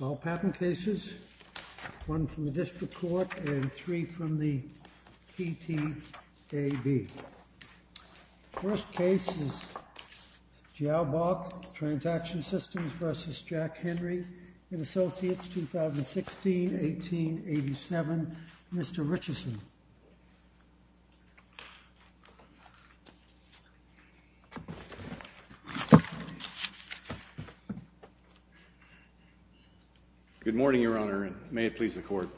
All patent cases, one from the District Court and three from the PTAB. First case is Joao Bock Transaction Systems v. Jack Henry & Associates, 2016-18-87, Mr. Richardson. Good morning, Your Honor, and may it please the Court.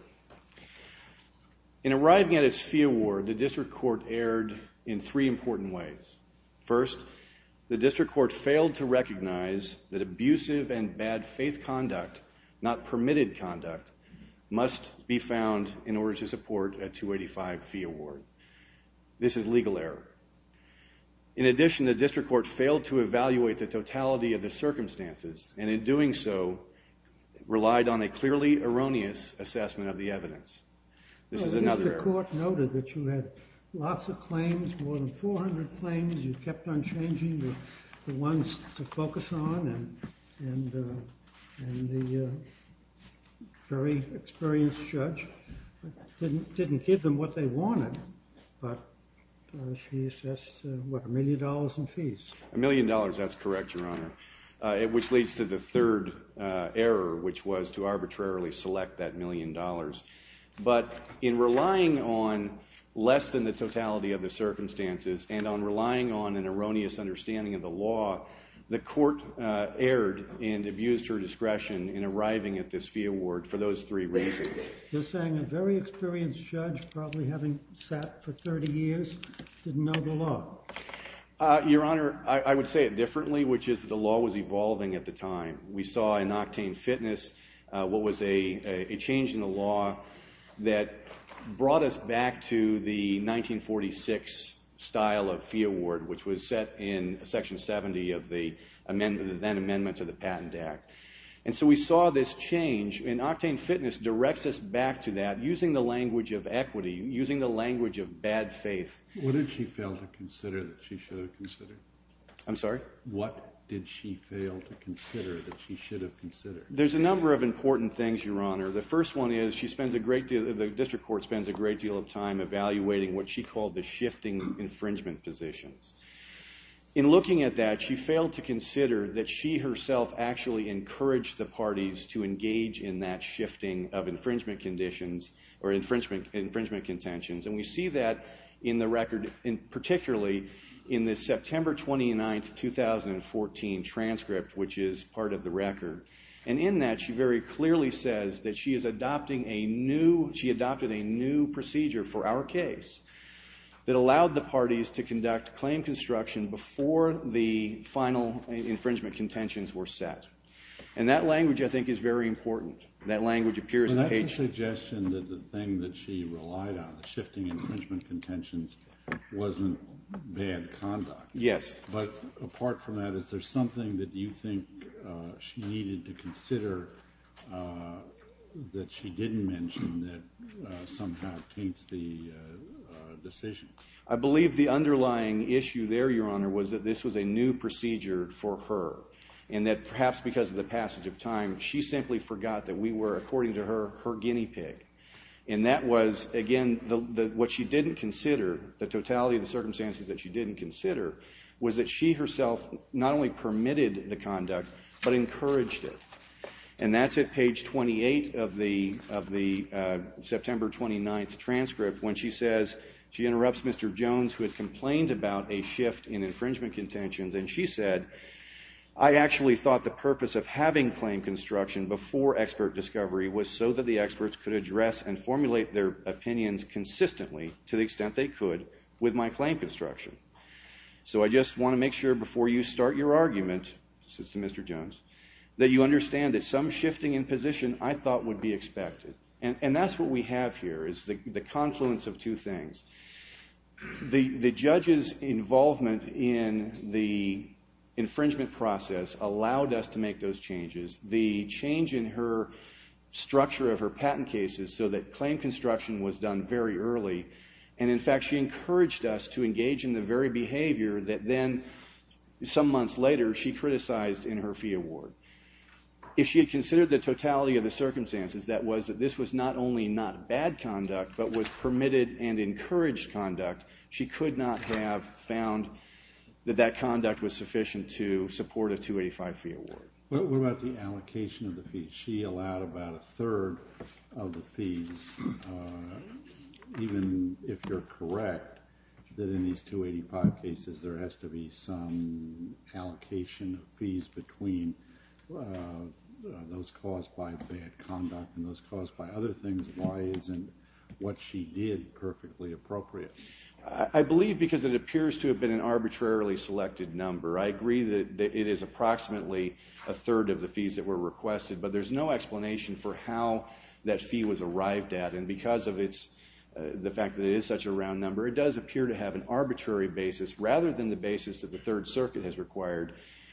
In arriving at its fee award, the District Court erred in three important ways. First, the District Court failed to recognize that abusive and bad faith conduct, not permitted conduct, must be found in order to support a 285 fee award. This is legal error. In addition, the District Court failed to evaluate the totality of the circumstances, and in doing so, relied on a clearly erroneous assessment of the evidence. This is another error. The Court noted that you had lots of claims, more than 400 claims. You kept on changing the ones to focus on, and the very experienced judge didn't give them what they wanted, but she assessed, what, a million dollars in fees? A million dollars, that's correct, Your Honor, which leads to the third error, which was to arbitrarily select that million dollars. But in relying on less than the totality of the circumstances, and on relying on an erroneous understanding of the law, the Court erred and abused her discretion in arriving at this fee award for those three reasons. You're saying a very experienced judge, probably having sat for 30 years, didn't know the law? Your Honor, I would say it differently, which is that the law was evolving at the time. We saw in Octane Fitness what was a change in the law that brought us back to the 1946 style of fee award, which was set in Section 70 of the then Amendment to the Patent Act. And so we saw this change, and Octane Fitness directs us back to that, using the language of equity, using the language of bad faith. What did she fail to consider that she should have considered? I'm sorry? What did she fail to consider that she should have considered? There's a number of important things, Your Honor. The first one is the District Court spends a great deal of time evaluating what she called the shifting infringement positions. In looking at that, she failed to consider that she herself actually encouraged the parties to engage in that shifting of infringement conditions, or infringement contentions. And we see that in the record, particularly in the September 29, 2014 transcript, which is part of the record. And in that, she very clearly says that she is adopting a new procedure for our case that allowed the parties to conduct claim construction before the final infringement contentions were set. And that language, I think, is very important. But that's a suggestion that the thing that she relied on, the shifting infringement contentions, wasn't bad conduct. Yes. But apart from that, is there something that you think she needed to consider that she didn't mention that somehow taints the decision? I believe the underlying issue there, Your Honor, was that this was a new procedure for her. And that perhaps because of the passage of time, she simply forgot that we were, according to her, her guinea pig. And that was, again, what she didn't consider, the totality of the circumstances that she didn't consider, was that she herself not only permitted the conduct, but encouraged it. And that's at page 28 of the September 29 transcript, when she says she interrupts Mr. Jones, who had complained about a shift in infringement contentions. And she said, I actually thought the purpose of having claim construction before expert discovery was so that the experts could address and formulate their opinions consistently, to the extent they could, with my claim construction. So I just want to make sure, before you start your argument, Assistant Mr. Jones, that you understand that some shifting in position I thought would be expected. And that's what we have here, is the confluence of two things. The judge's involvement in the infringement process allowed us to make those changes. The change in her structure of her patent cases, so that claim construction was done very early. And in fact, she encouraged us to engage in the very behavior that then, some months later, she criticized in her fee award. If she had considered the totality of the circumstances, that was that this was not only not bad conduct, but was permitted and encouraged conduct, she could not have found that that conduct was sufficient to support a 285 fee award. What about the allocation of the fees? She allowed about a third of the fees, even if you're correct, that in these 285 cases there has to be some allocation of fees between those caused by bad conduct and those caused by other things. Why isn't what she did perfectly appropriate? I believe because it appears to have been an arbitrarily selected number. I agree that it is approximately a third of the fees that were requested, but there's no explanation for how that fee was arrived at. And because of the fact that it is such a round number, it does appear to have an arbitrary basis, rather than the basis that the Third Circuit has required,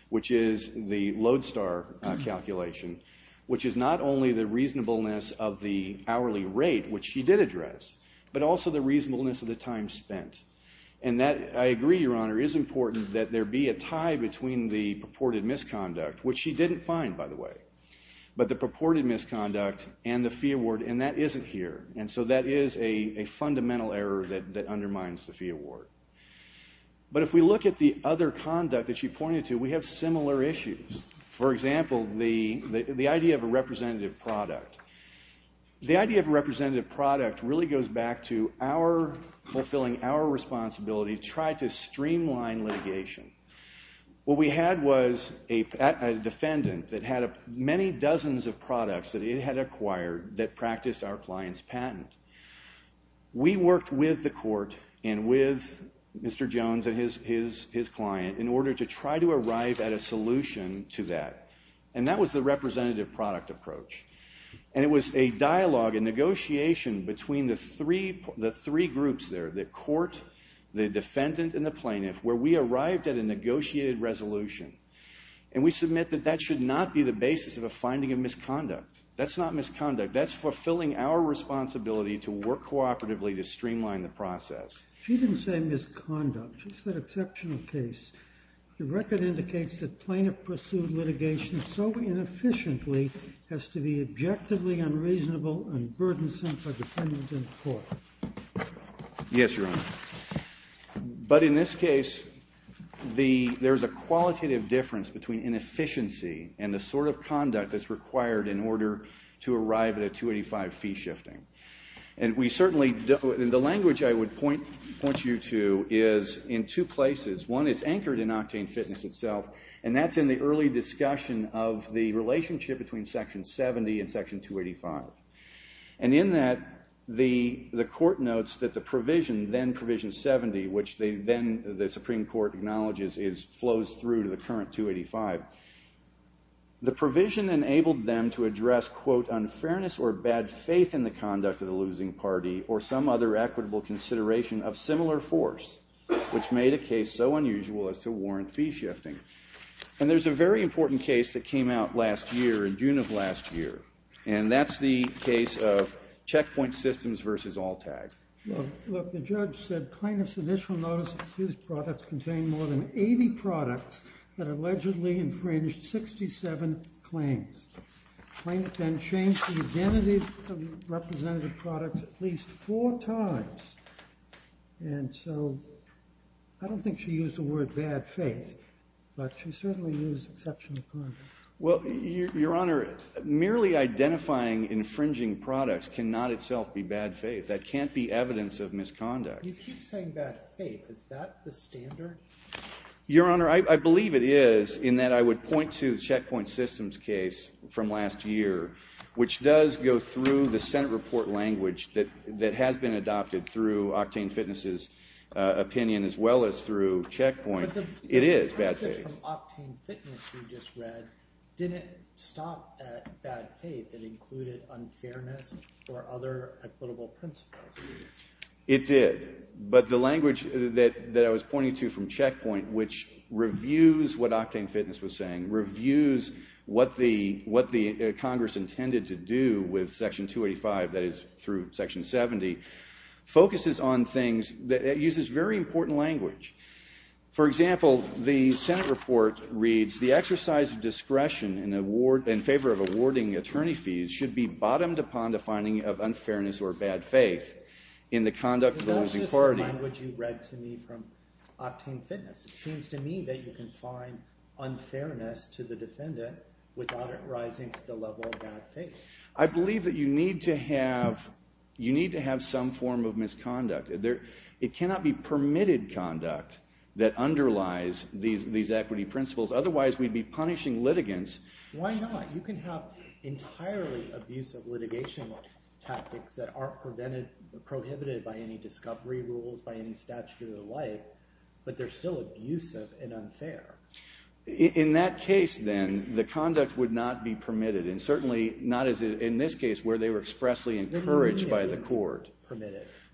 which is the Lodestar calculation, which is not only the reasonableness of the hourly rate, which she did address, but also the reasonableness of the time spent. I agree, Your Honor, it is important that there be a tie between the purported misconduct, which she didn't find, by the way, but the purported misconduct and the fee award, and that isn't here. And so that is a fundamental error that undermines the fee award. But if we look at the other conduct that she pointed to, we have similar issues. For example, the idea of a representative product. The idea of a representative product really goes back to our fulfilling our responsibility to try to streamline litigation. What we had was a defendant that had many dozens of products that it had acquired that practiced our client's patent. We worked with the court and with Mr. Jones and his client in order to try to arrive at a solution to that, and that was the representative product approach. And it was a dialogue, a negotiation between the three groups there, the court, the defendant, and the plaintiff, where we arrived at a negotiated resolution. And we submit that that should not be the basis of a finding of misconduct. That's not misconduct. That's fulfilling our responsibility to work cooperatively to streamline the process. She didn't say misconduct. It's an exceptional case. The record indicates that plaintiff-pursued litigation so inefficiently has to be objectively unreasonable and burdensome for the defendant and the court. Yes, Your Honor. But in this case, there's a qualitative difference between inefficiency and the sort of conduct that's required in order to arrive at a 285 fee shifting. The language I would point you to is in two places. One is anchored in Octane Fitness itself, and that's in the early discussion of the relationship between Section 70 and Section 285. And in that, the court notes that the provision, then Provision 70, which then the Supreme Court acknowledges flows through to the current 285. The provision enabled them to address, quote, unfairness or bad faith in the conduct of the losing party or some other equitable consideration of similar force, which made a case so unusual as to warrant fee shifting. And there's a very important case that came out last year, in June of last year, and that's the case of Checkpoint Systems v. Alltag. Well, look, the judge said plaintiff's initial notice of accused products contained more than 80 products that allegedly infringed 67 claims. The plaintiff then changed the identity of the representative products at least four times. And so I don't think she used the word bad faith, but she certainly used exceptional conduct. Well, Your Honor, merely identifying infringing products cannot itself be bad faith. That can't be evidence of misconduct. You keep saying bad faith. Is that the standard? Your Honor, I believe it is, in that I would point to the Checkpoint Systems case from last year, which does go through the Senate report language that has been adopted through Octane Fitness's opinion as well as through Checkpoint. It is bad faith. The passage from Octane Fitness we just read didn't stop at bad faith. It included unfairness or other equitable principles. It did, but the language that I was pointing to from Checkpoint, which reviews what Octane Fitness was saying, reviews what the Congress intended to do with Section 285, that is, through Section 70, focuses on things that uses very important language. For example, the Senate report reads, the exercise of discretion in favor of awarding attorney fees should be bottomed upon the finding of unfairness or bad faith in the conduct of the losing party. But that's just the language you read to me from Octane Fitness. It seems to me that you can find unfairness to the defendant without it rising to the level of bad faith. I believe that you need to have some form of misconduct. It cannot be permitted conduct that underlies these equity principles. Otherwise, we'd be punishing litigants. Why not? You can have entirely abusive litigation tactics that aren't prohibited by any discovery rules, by any statute or the like, but they're still abusive and unfair. In that case, then, the conduct would not be permitted, and certainly not as in this case where they were expressly encouraged by the court.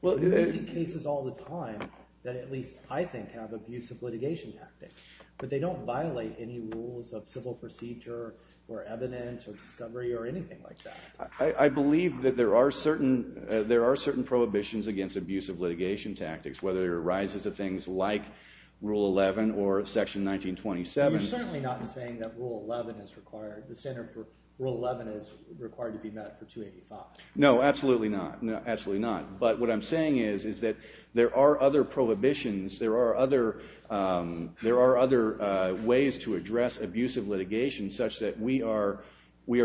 Well, we see cases all the time that at least I think have abusive litigation tactics, but they don't violate any rules of civil procedure or evidence or discovery or anything like that. I believe that there are certain prohibitions against abusive litigation tactics, whether it arises of things like Rule 11 or Section 1927. You're certainly not saying that Rule 11 is required. The standard for Rule 11 is required to be met for 285. No, absolutely not. Absolutely not. But what I'm saying is that there are other prohibitions. There are other ways to address abusive litigation such that we are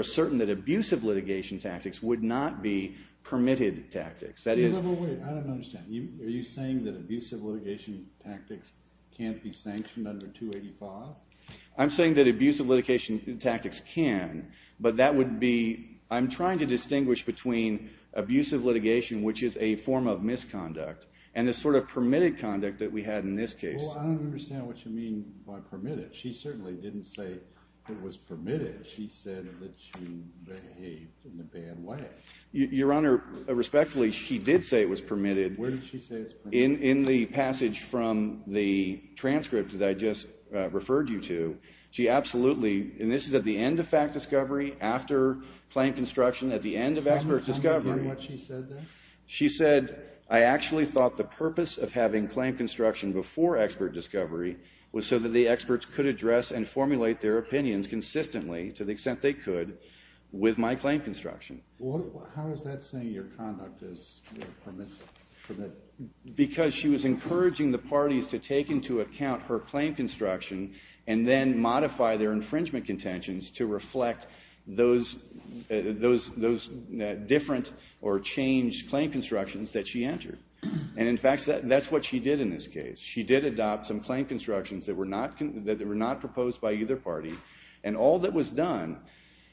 certain that abusive litigation tactics would not be permitted tactics. Wait, wait, wait. I don't understand. Are you saying that abusive litigation tactics can't be sanctioned under 285? I'm saying that abusive litigation tactics can. But that would be I'm trying to distinguish between abusive litigation, which is a form of misconduct, and the sort of permitted conduct that we had in this case. Well, I don't understand what you mean by permitted. She certainly didn't say it was permitted. She said that she behaved in a bad way. Your Honor, respectfully, she did say it was permitted. Where did she say it was permitted? In the passage from the transcript that I just referred you to, she absolutely, and this is at the end of fact discovery, after claim construction, at the end of expert discovery. Can you comment on what she said there? She said, I actually thought the purpose of having claim construction before expert discovery was so that the experts could address and formulate their opinions consistently, to the extent they could, with my claim construction. How is that saying your conduct is permissive? Because she was encouraging the parties to take into account her claim construction and then modify their infringement contentions to reflect those different or changed claim constructions that she entered. And in fact, that's what she did in this case. She did adopt some claim constructions that were not proposed by either party. And all that was done,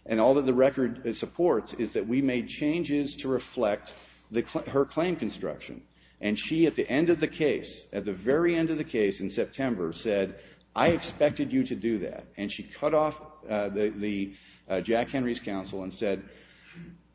and all that the record supports, is that we made changes to reflect her claim construction. And she, at the end of the case, at the very end of the case in September, said, I expected you to do that. And she cut off the Jack Henry's counsel and said,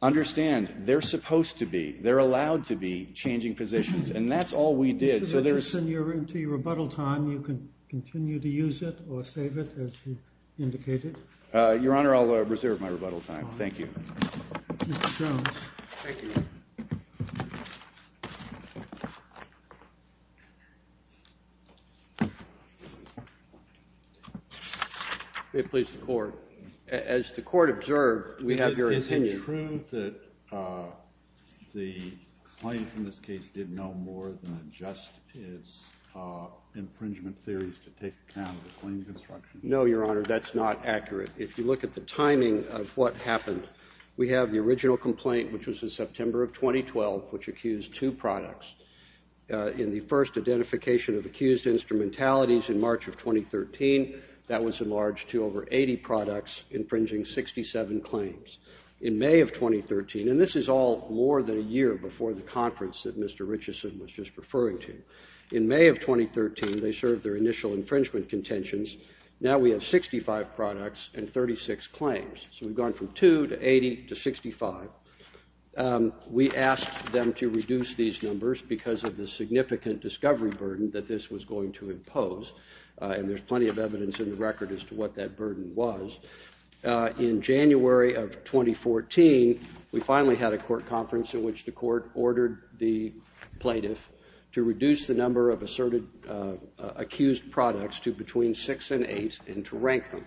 understand, they're supposed to be, they're allowed to be, changing positions. And that's all we did. Mr. Richardson, you're into your rebuttal time. You can continue to use it or save it, as you indicated. Your Honor, I'll reserve my rebuttal time. Thank you. Mr. Jones. Thank you. May it please the Court. As the Court observed, we have your opinion. Is it true that the plaintiff in this case did no more than adjust his infringement theories to take account of the claim construction? No, Your Honor. That's not accurate. If you look at the timing of what happened, we have the original complaint, which was in September of 2012, which accused two products. In the first identification of accused instrumentalities in March of 2013, that was enlarged to over 80 products, infringing 67 claims. In May of 2013, and this is all more than a year before the conference that Mr. Richardson was just referring to, in May of 2013, they served their initial infringement contentions. Now we have 65 products and 36 claims. So we've gone from 2 to 80 to 65. We asked them to reduce these numbers because of the significant discovery burden that this was going to impose, and there's plenty of evidence in the record as to what that burden was. In January of 2014, we finally had a court conference in which the Court ordered the plaintiff to reduce the number of asserted accused products to between 6 and 8 and to rank them.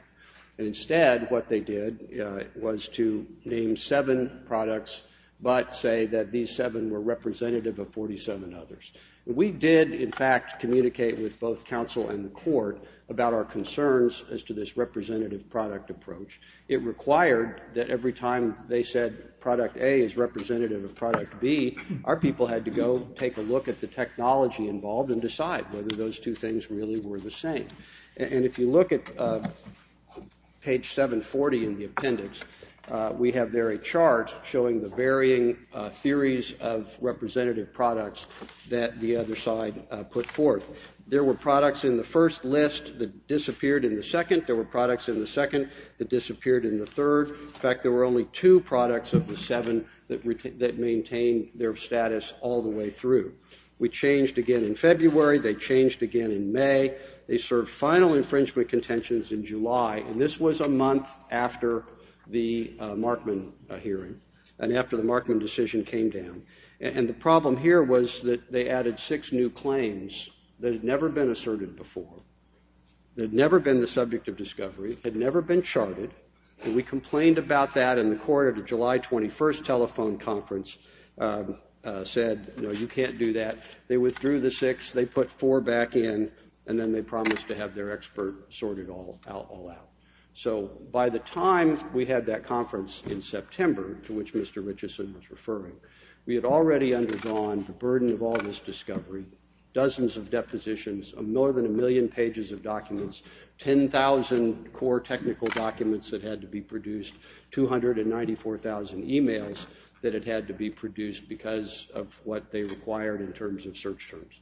Instead, what they did was to name seven products but say that these seven were representative of 47 others. We did, in fact, communicate with both counsel and the court about our concerns as to this representative product approach. It required that every time they said product A is representative of product B, our people had to go take a look at the technology involved and decide whether those two things really were the same. And if you look at page 740 in the appendix, we have there a chart showing the varying theories of representative products that the other side put forth. There were products in the first list that disappeared in the second. There were products in the second that disappeared in the third. In fact, there were only two products of the seven that maintained their status all the way through. We changed again in February. They changed again in May. They served final infringement contentions in July, and this was a month after the Markman hearing and after the Markman decision came down. And the problem here was that they added six new claims that had never been asserted before, that had never been the subject of discovery, had never been charted. And we complained about that, and the court at the July 21st telephone conference said, no, you can't do that. They withdrew the six. They put four back in, and then they promised to have their expert sort it all out. So by the time we had that conference in September, to which Mr. Richeson was referring, we had already undergone the burden of all this discovery, dozens of depositions, more than a million pages of documents, 10,000 core technical documents that had to be produced, 294,000 emails that had had to be produced because of what they required in terms of search terms.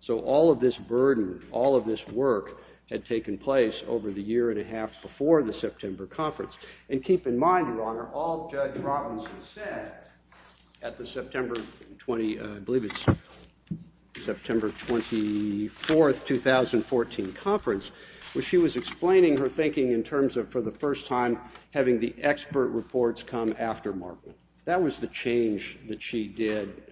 So all of this burden, all of this work had taken place over the year and a half before the September conference. And keep in mind, Your Honor, all Judge Robinson said at the September 20, I believe it's September 24th, 2014 conference, was she was explaining her thinking in terms of, for the first time, having the expert reports come after Markman. That was the change that she did.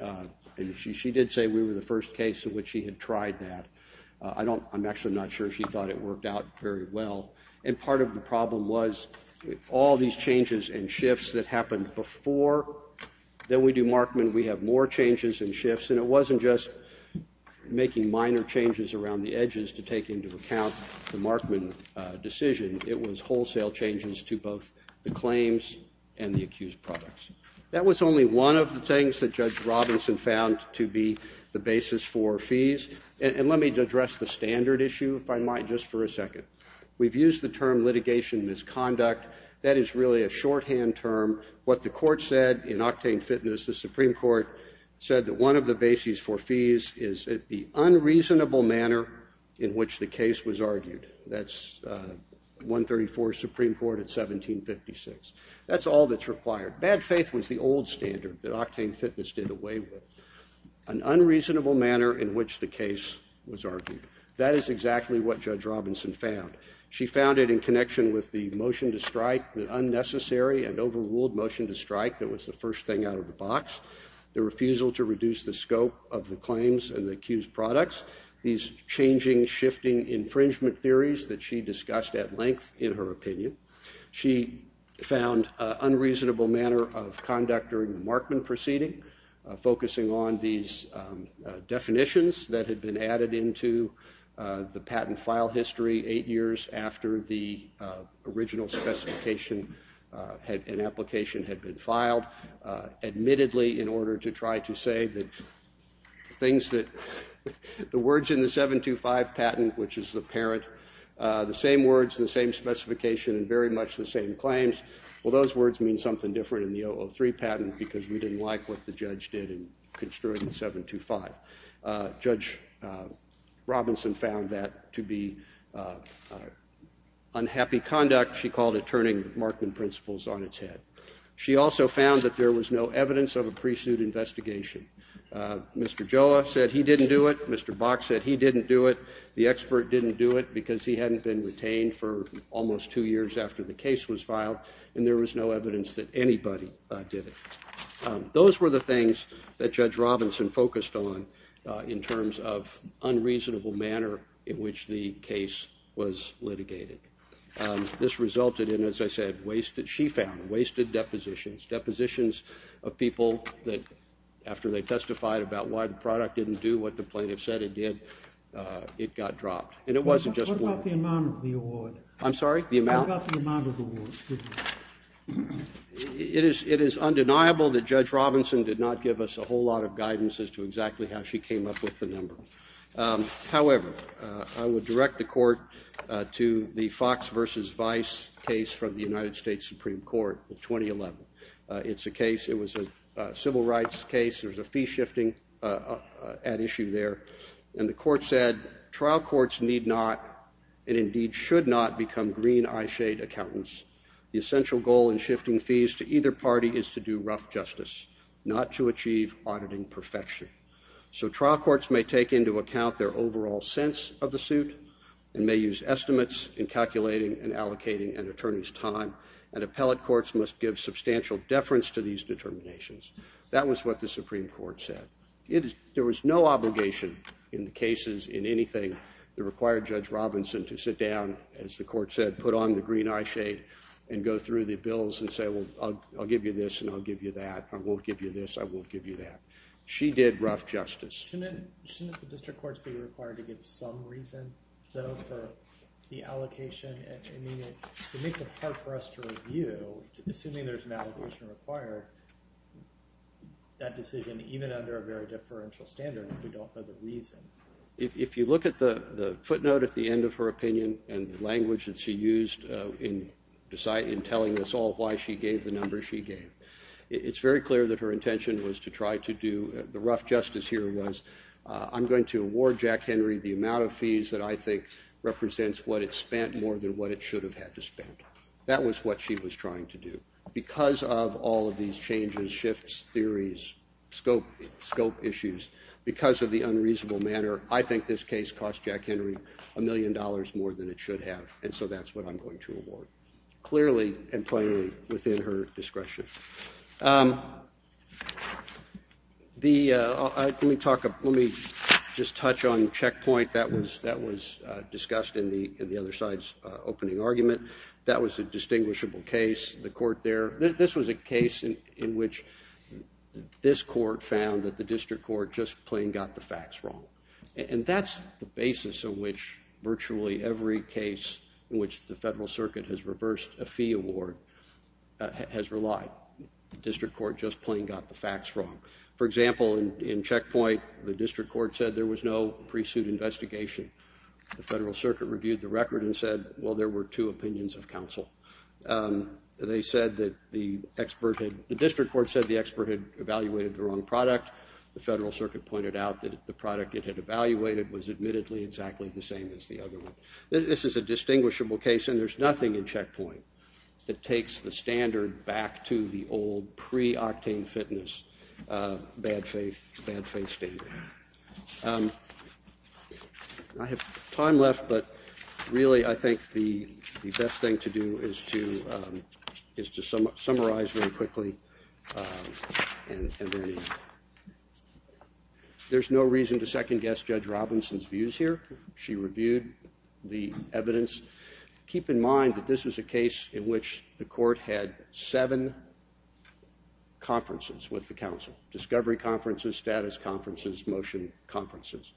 And she did say we were the first case in which she had tried that. I'm actually not sure she thought it worked out very well. And part of the problem was all these changes and shifts that happened before that we do Markman, we have more changes and shifts. And it wasn't just making minor changes around the edges to take into account the Markman decision. It was wholesale changes to both the claims and the accused products. That was only one of the things that Judge Robinson found to be the basis for fees. And let me address the standard issue, if I might, just for a second. We've used the term litigation misconduct. That is really a shorthand term. What the court said in Octane Fitness, the Supreme Court said that one of the bases for fees is the unreasonable manner in which the case was argued. That's 134 Supreme Court at 1756. That's all that's required. Bad faith was the old standard that Octane Fitness did away with. An unreasonable manner in which the case was argued. That is exactly what Judge Robinson found. She found it in connection with the motion to strike, the unnecessary and overruled motion to strike that was the first thing out of the box. The refusal to reduce the scope of the claims and the accused products. These changing, shifting infringement theories that she discussed at length in her opinion. She found an unreasonable manner of conduct during the Markman proceeding, focusing on these definitions that had been added into the patent file history eight years after the original specification and application had been filed. Admittedly, in order to try to say that the words in the 725 patent, which is the parent, the same words, the same specification, and very much the same claims. Well, those words mean something different in the 003 patent because we didn't like what the judge did in construing 725. Judge Robinson found that to be unhappy conduct. She called it turning Markman principles on its head. She also found that there was no evidence of a pre-suit investigation. Mr. Joe said he didn't do it. Mr. Box said he didn't do it. The expert didn't do it because he hadn't been retained for almost two years after the case was filed. And there was no evidence that anybody did it. Those were the things that Judge Robinson focused on in terms of unreasonable manner in which the case was litigated. This resulted in, as I said, wasted, she found, wasted depositions. Depositions of people that, after they testified about why the product didn't do what the plaintiff said it did, it got dropped. And it wasn't just one. What about the amount of the award? I'm sorry? What about the amount of the award? It is undeniable that Judge Robinson did not give us a whole lot of guidance as to exactly how she came up with the number. However, I would direct the court to the Fox versus Vice case from the United States Supreme Court in 2011. It's a case. It was a civil rights case. There was a fee shifting at issue there. And the court said, trial courts need not and indeed should not become green eyeshade accountants. The essential goal in shifting fees to either party is to do rough justice, not to achieve auditing perfection. So trial courts may take into account their overall sense of the suit and may use estimates in calculating and allocating an attorney's time. And appellate courts must give substantial deference to these determinations. That was what the Supreme Court said. There was no obligation in the cases in anything that required Judge Robinson to sit down, as the court said, put on the green eyeshade, and go through the bills and say, well, I'll give you this and I'll give you that. I won't give you this. I won't give you that. She did rough justice. Shouldn't the district courts be required to give some reason, though, for the allocation? I mean, it makes it hard for us to review, assuming there's an allocation required, that decision, even under a very deferential standard if we don't know the reason. If you look at the footnote at the end of her opinion and the language that she used in telling us all why she gave the number she gave, it's very clear that her intention was to try to do, the rough justice here was, I'm going to award Jack Henry the amount of fees that I think represents what it spent more than what it should have had to spend. That was what she was trying to do. Because of all of these changes, shifts, theories, scope issues, because of the unreasonable manner, I think this case cost Jack Henry a million dollars more than it should have, and so that's what I'm going to award. Clearly and plainly within her discretion. The, let me talk, let me just touch on checkpoint. That was discussed in the other side's opening argument. That was a distinguishable case. The court there, this was a case in which this court found that the district court just plain got the facts wrong. And that's the basis of which virtually every case in which the federal circuit has reversed a fee award has relied. The district court just plain got the facts wrong. For example, in checkpoint, the district court said there was no pre-suit investigation. The federal circuit reviewed the record and said, well, there were two opinions of counsel. They said that the expert, the district court said the expert had evaluated the wrong product. The federal circuit pointed out that the product it had evaluated was admittedly exactly the same as the other one. This is a distinguishable case, and there's nothing in checkpoint that takes the standard back to the old pre-octane fitness, bad faith, bad faith standard. I have time left, but really I think the best thing to do is to, is to summarize very quickly. And there's no reason to second guess Judge Robinson's views here. She reviewed the evidence. Keep in mind that this was a case in which the court had seven conferences with the council, discovery conferences, status conferences, motion conferences.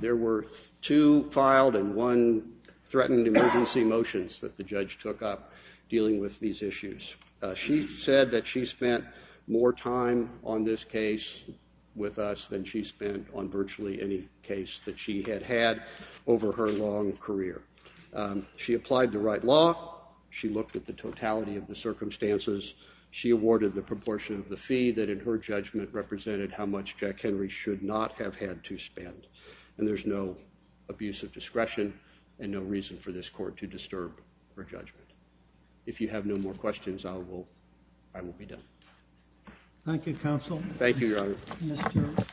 There were two filed and one threatened emergency motions that the judge took up dealing with these issues. She said that she spent more time on this case with us than she spent on virtually any case that she had had over her long career. She applied the right law. She looked at the totality of the circumstances. She awarded the proportion of the fee that, in her judgment, represented how much Jack Henry should not have had to spend. And there's no abuse of discretion and no reason for this court to disturb her judgment. If you have no more questions, I will be done. Thank you, counsel. Thank you, Your Honor. Mr.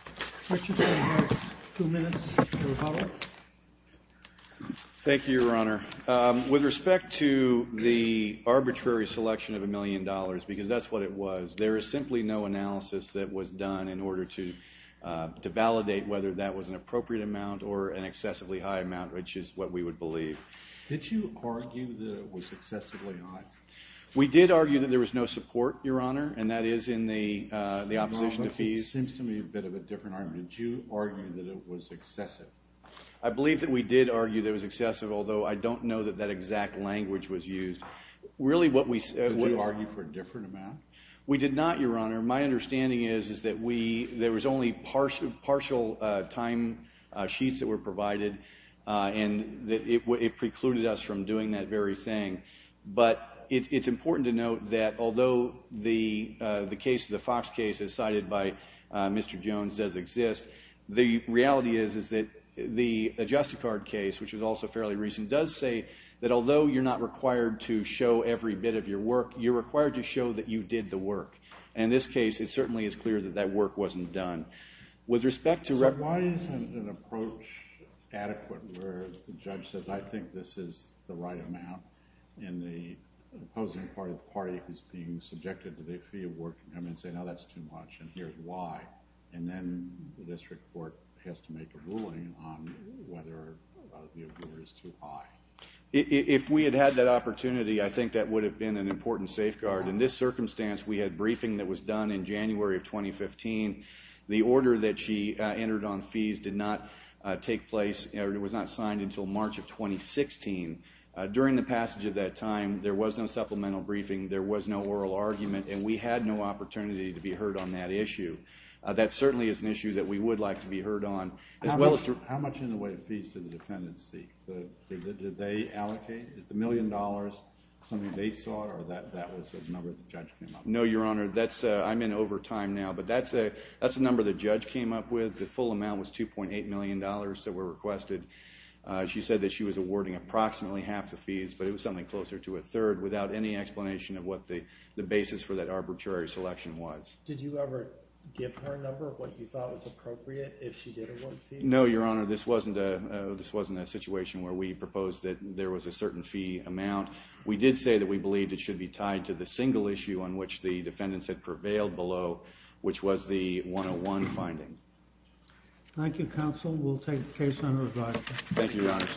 Richardson has two minutes to follow. Thank you, Your Honor. With respect to the arbitrary selection of a million dollars, because that's what it was, there is simply no analysis that was done in order to validate whether that was an appropriate amount or an excessively high amount, which is what we would believe. Did you argue that it was excessively high? We did argue that there was no support, Your Honor, and that is in the opposition to fees. That seems to me a bit of a different argument. Did you argue that it was excessive? I believe that we did argue that it was excessive, although I don't know that that exact language was used. Did you argue for a different amount? We did not, Your Honor. My understanding is that there was only partial time sheets that were provided, and it precluded us from doing that very thing. But it's important to note that although the case, the Fox case as cited by Mr. Jones, does exist, the reality is that the Adjust-a-Card case, which was also fairly recent, does say that although you're not required to show every bit of your work, you're required to show that you did the work. And in this case, it certainly is clear that that work wasn't done. So why isn't an approach adequate where the judge says, I think this is the right amount, and the opposing party, the party who's being subjected to the fee of work, can come in and say, no, that's too much, and here's why. And then the district court has to make a ruling on whether the award is too high. If we had had that opportunity, I think that would have been an important safeguard. In this circumstance, we had briefing that was done in January of 2015. The order that she entered on fees did not take place, or it was not signed until March of 2016. During the passage of that time, there was no supplemental briefing, there was no oral argument, and we had no opportunity to be heard on that issue. That certainly is an issue that we would like to be heard on. How much in the way of fees did the defendants seek? Did they allocate? Is the million dollars something they sought, or that was a number the judge came up with? No, Your Honor, I'm in overtime now, but that's a number the judge came up with. The full amount was $2.8 million that were requested. She said that she was awarding approximately half the fees, but it was something closer to a third, without any explanation of what the basis for that arbitrary selection was. Did you ever give her a number of what you thought was appropriate if she did award fees? No, Your Honor, this wasn't a situation where we proposed that there was a certain fee amount. We did say that we believed it should be tied to the single issue on which the defendants had prevailed below, which was the 101 finding. Thank you, counsel. We'll take the case under review. Thank you, Your Honor.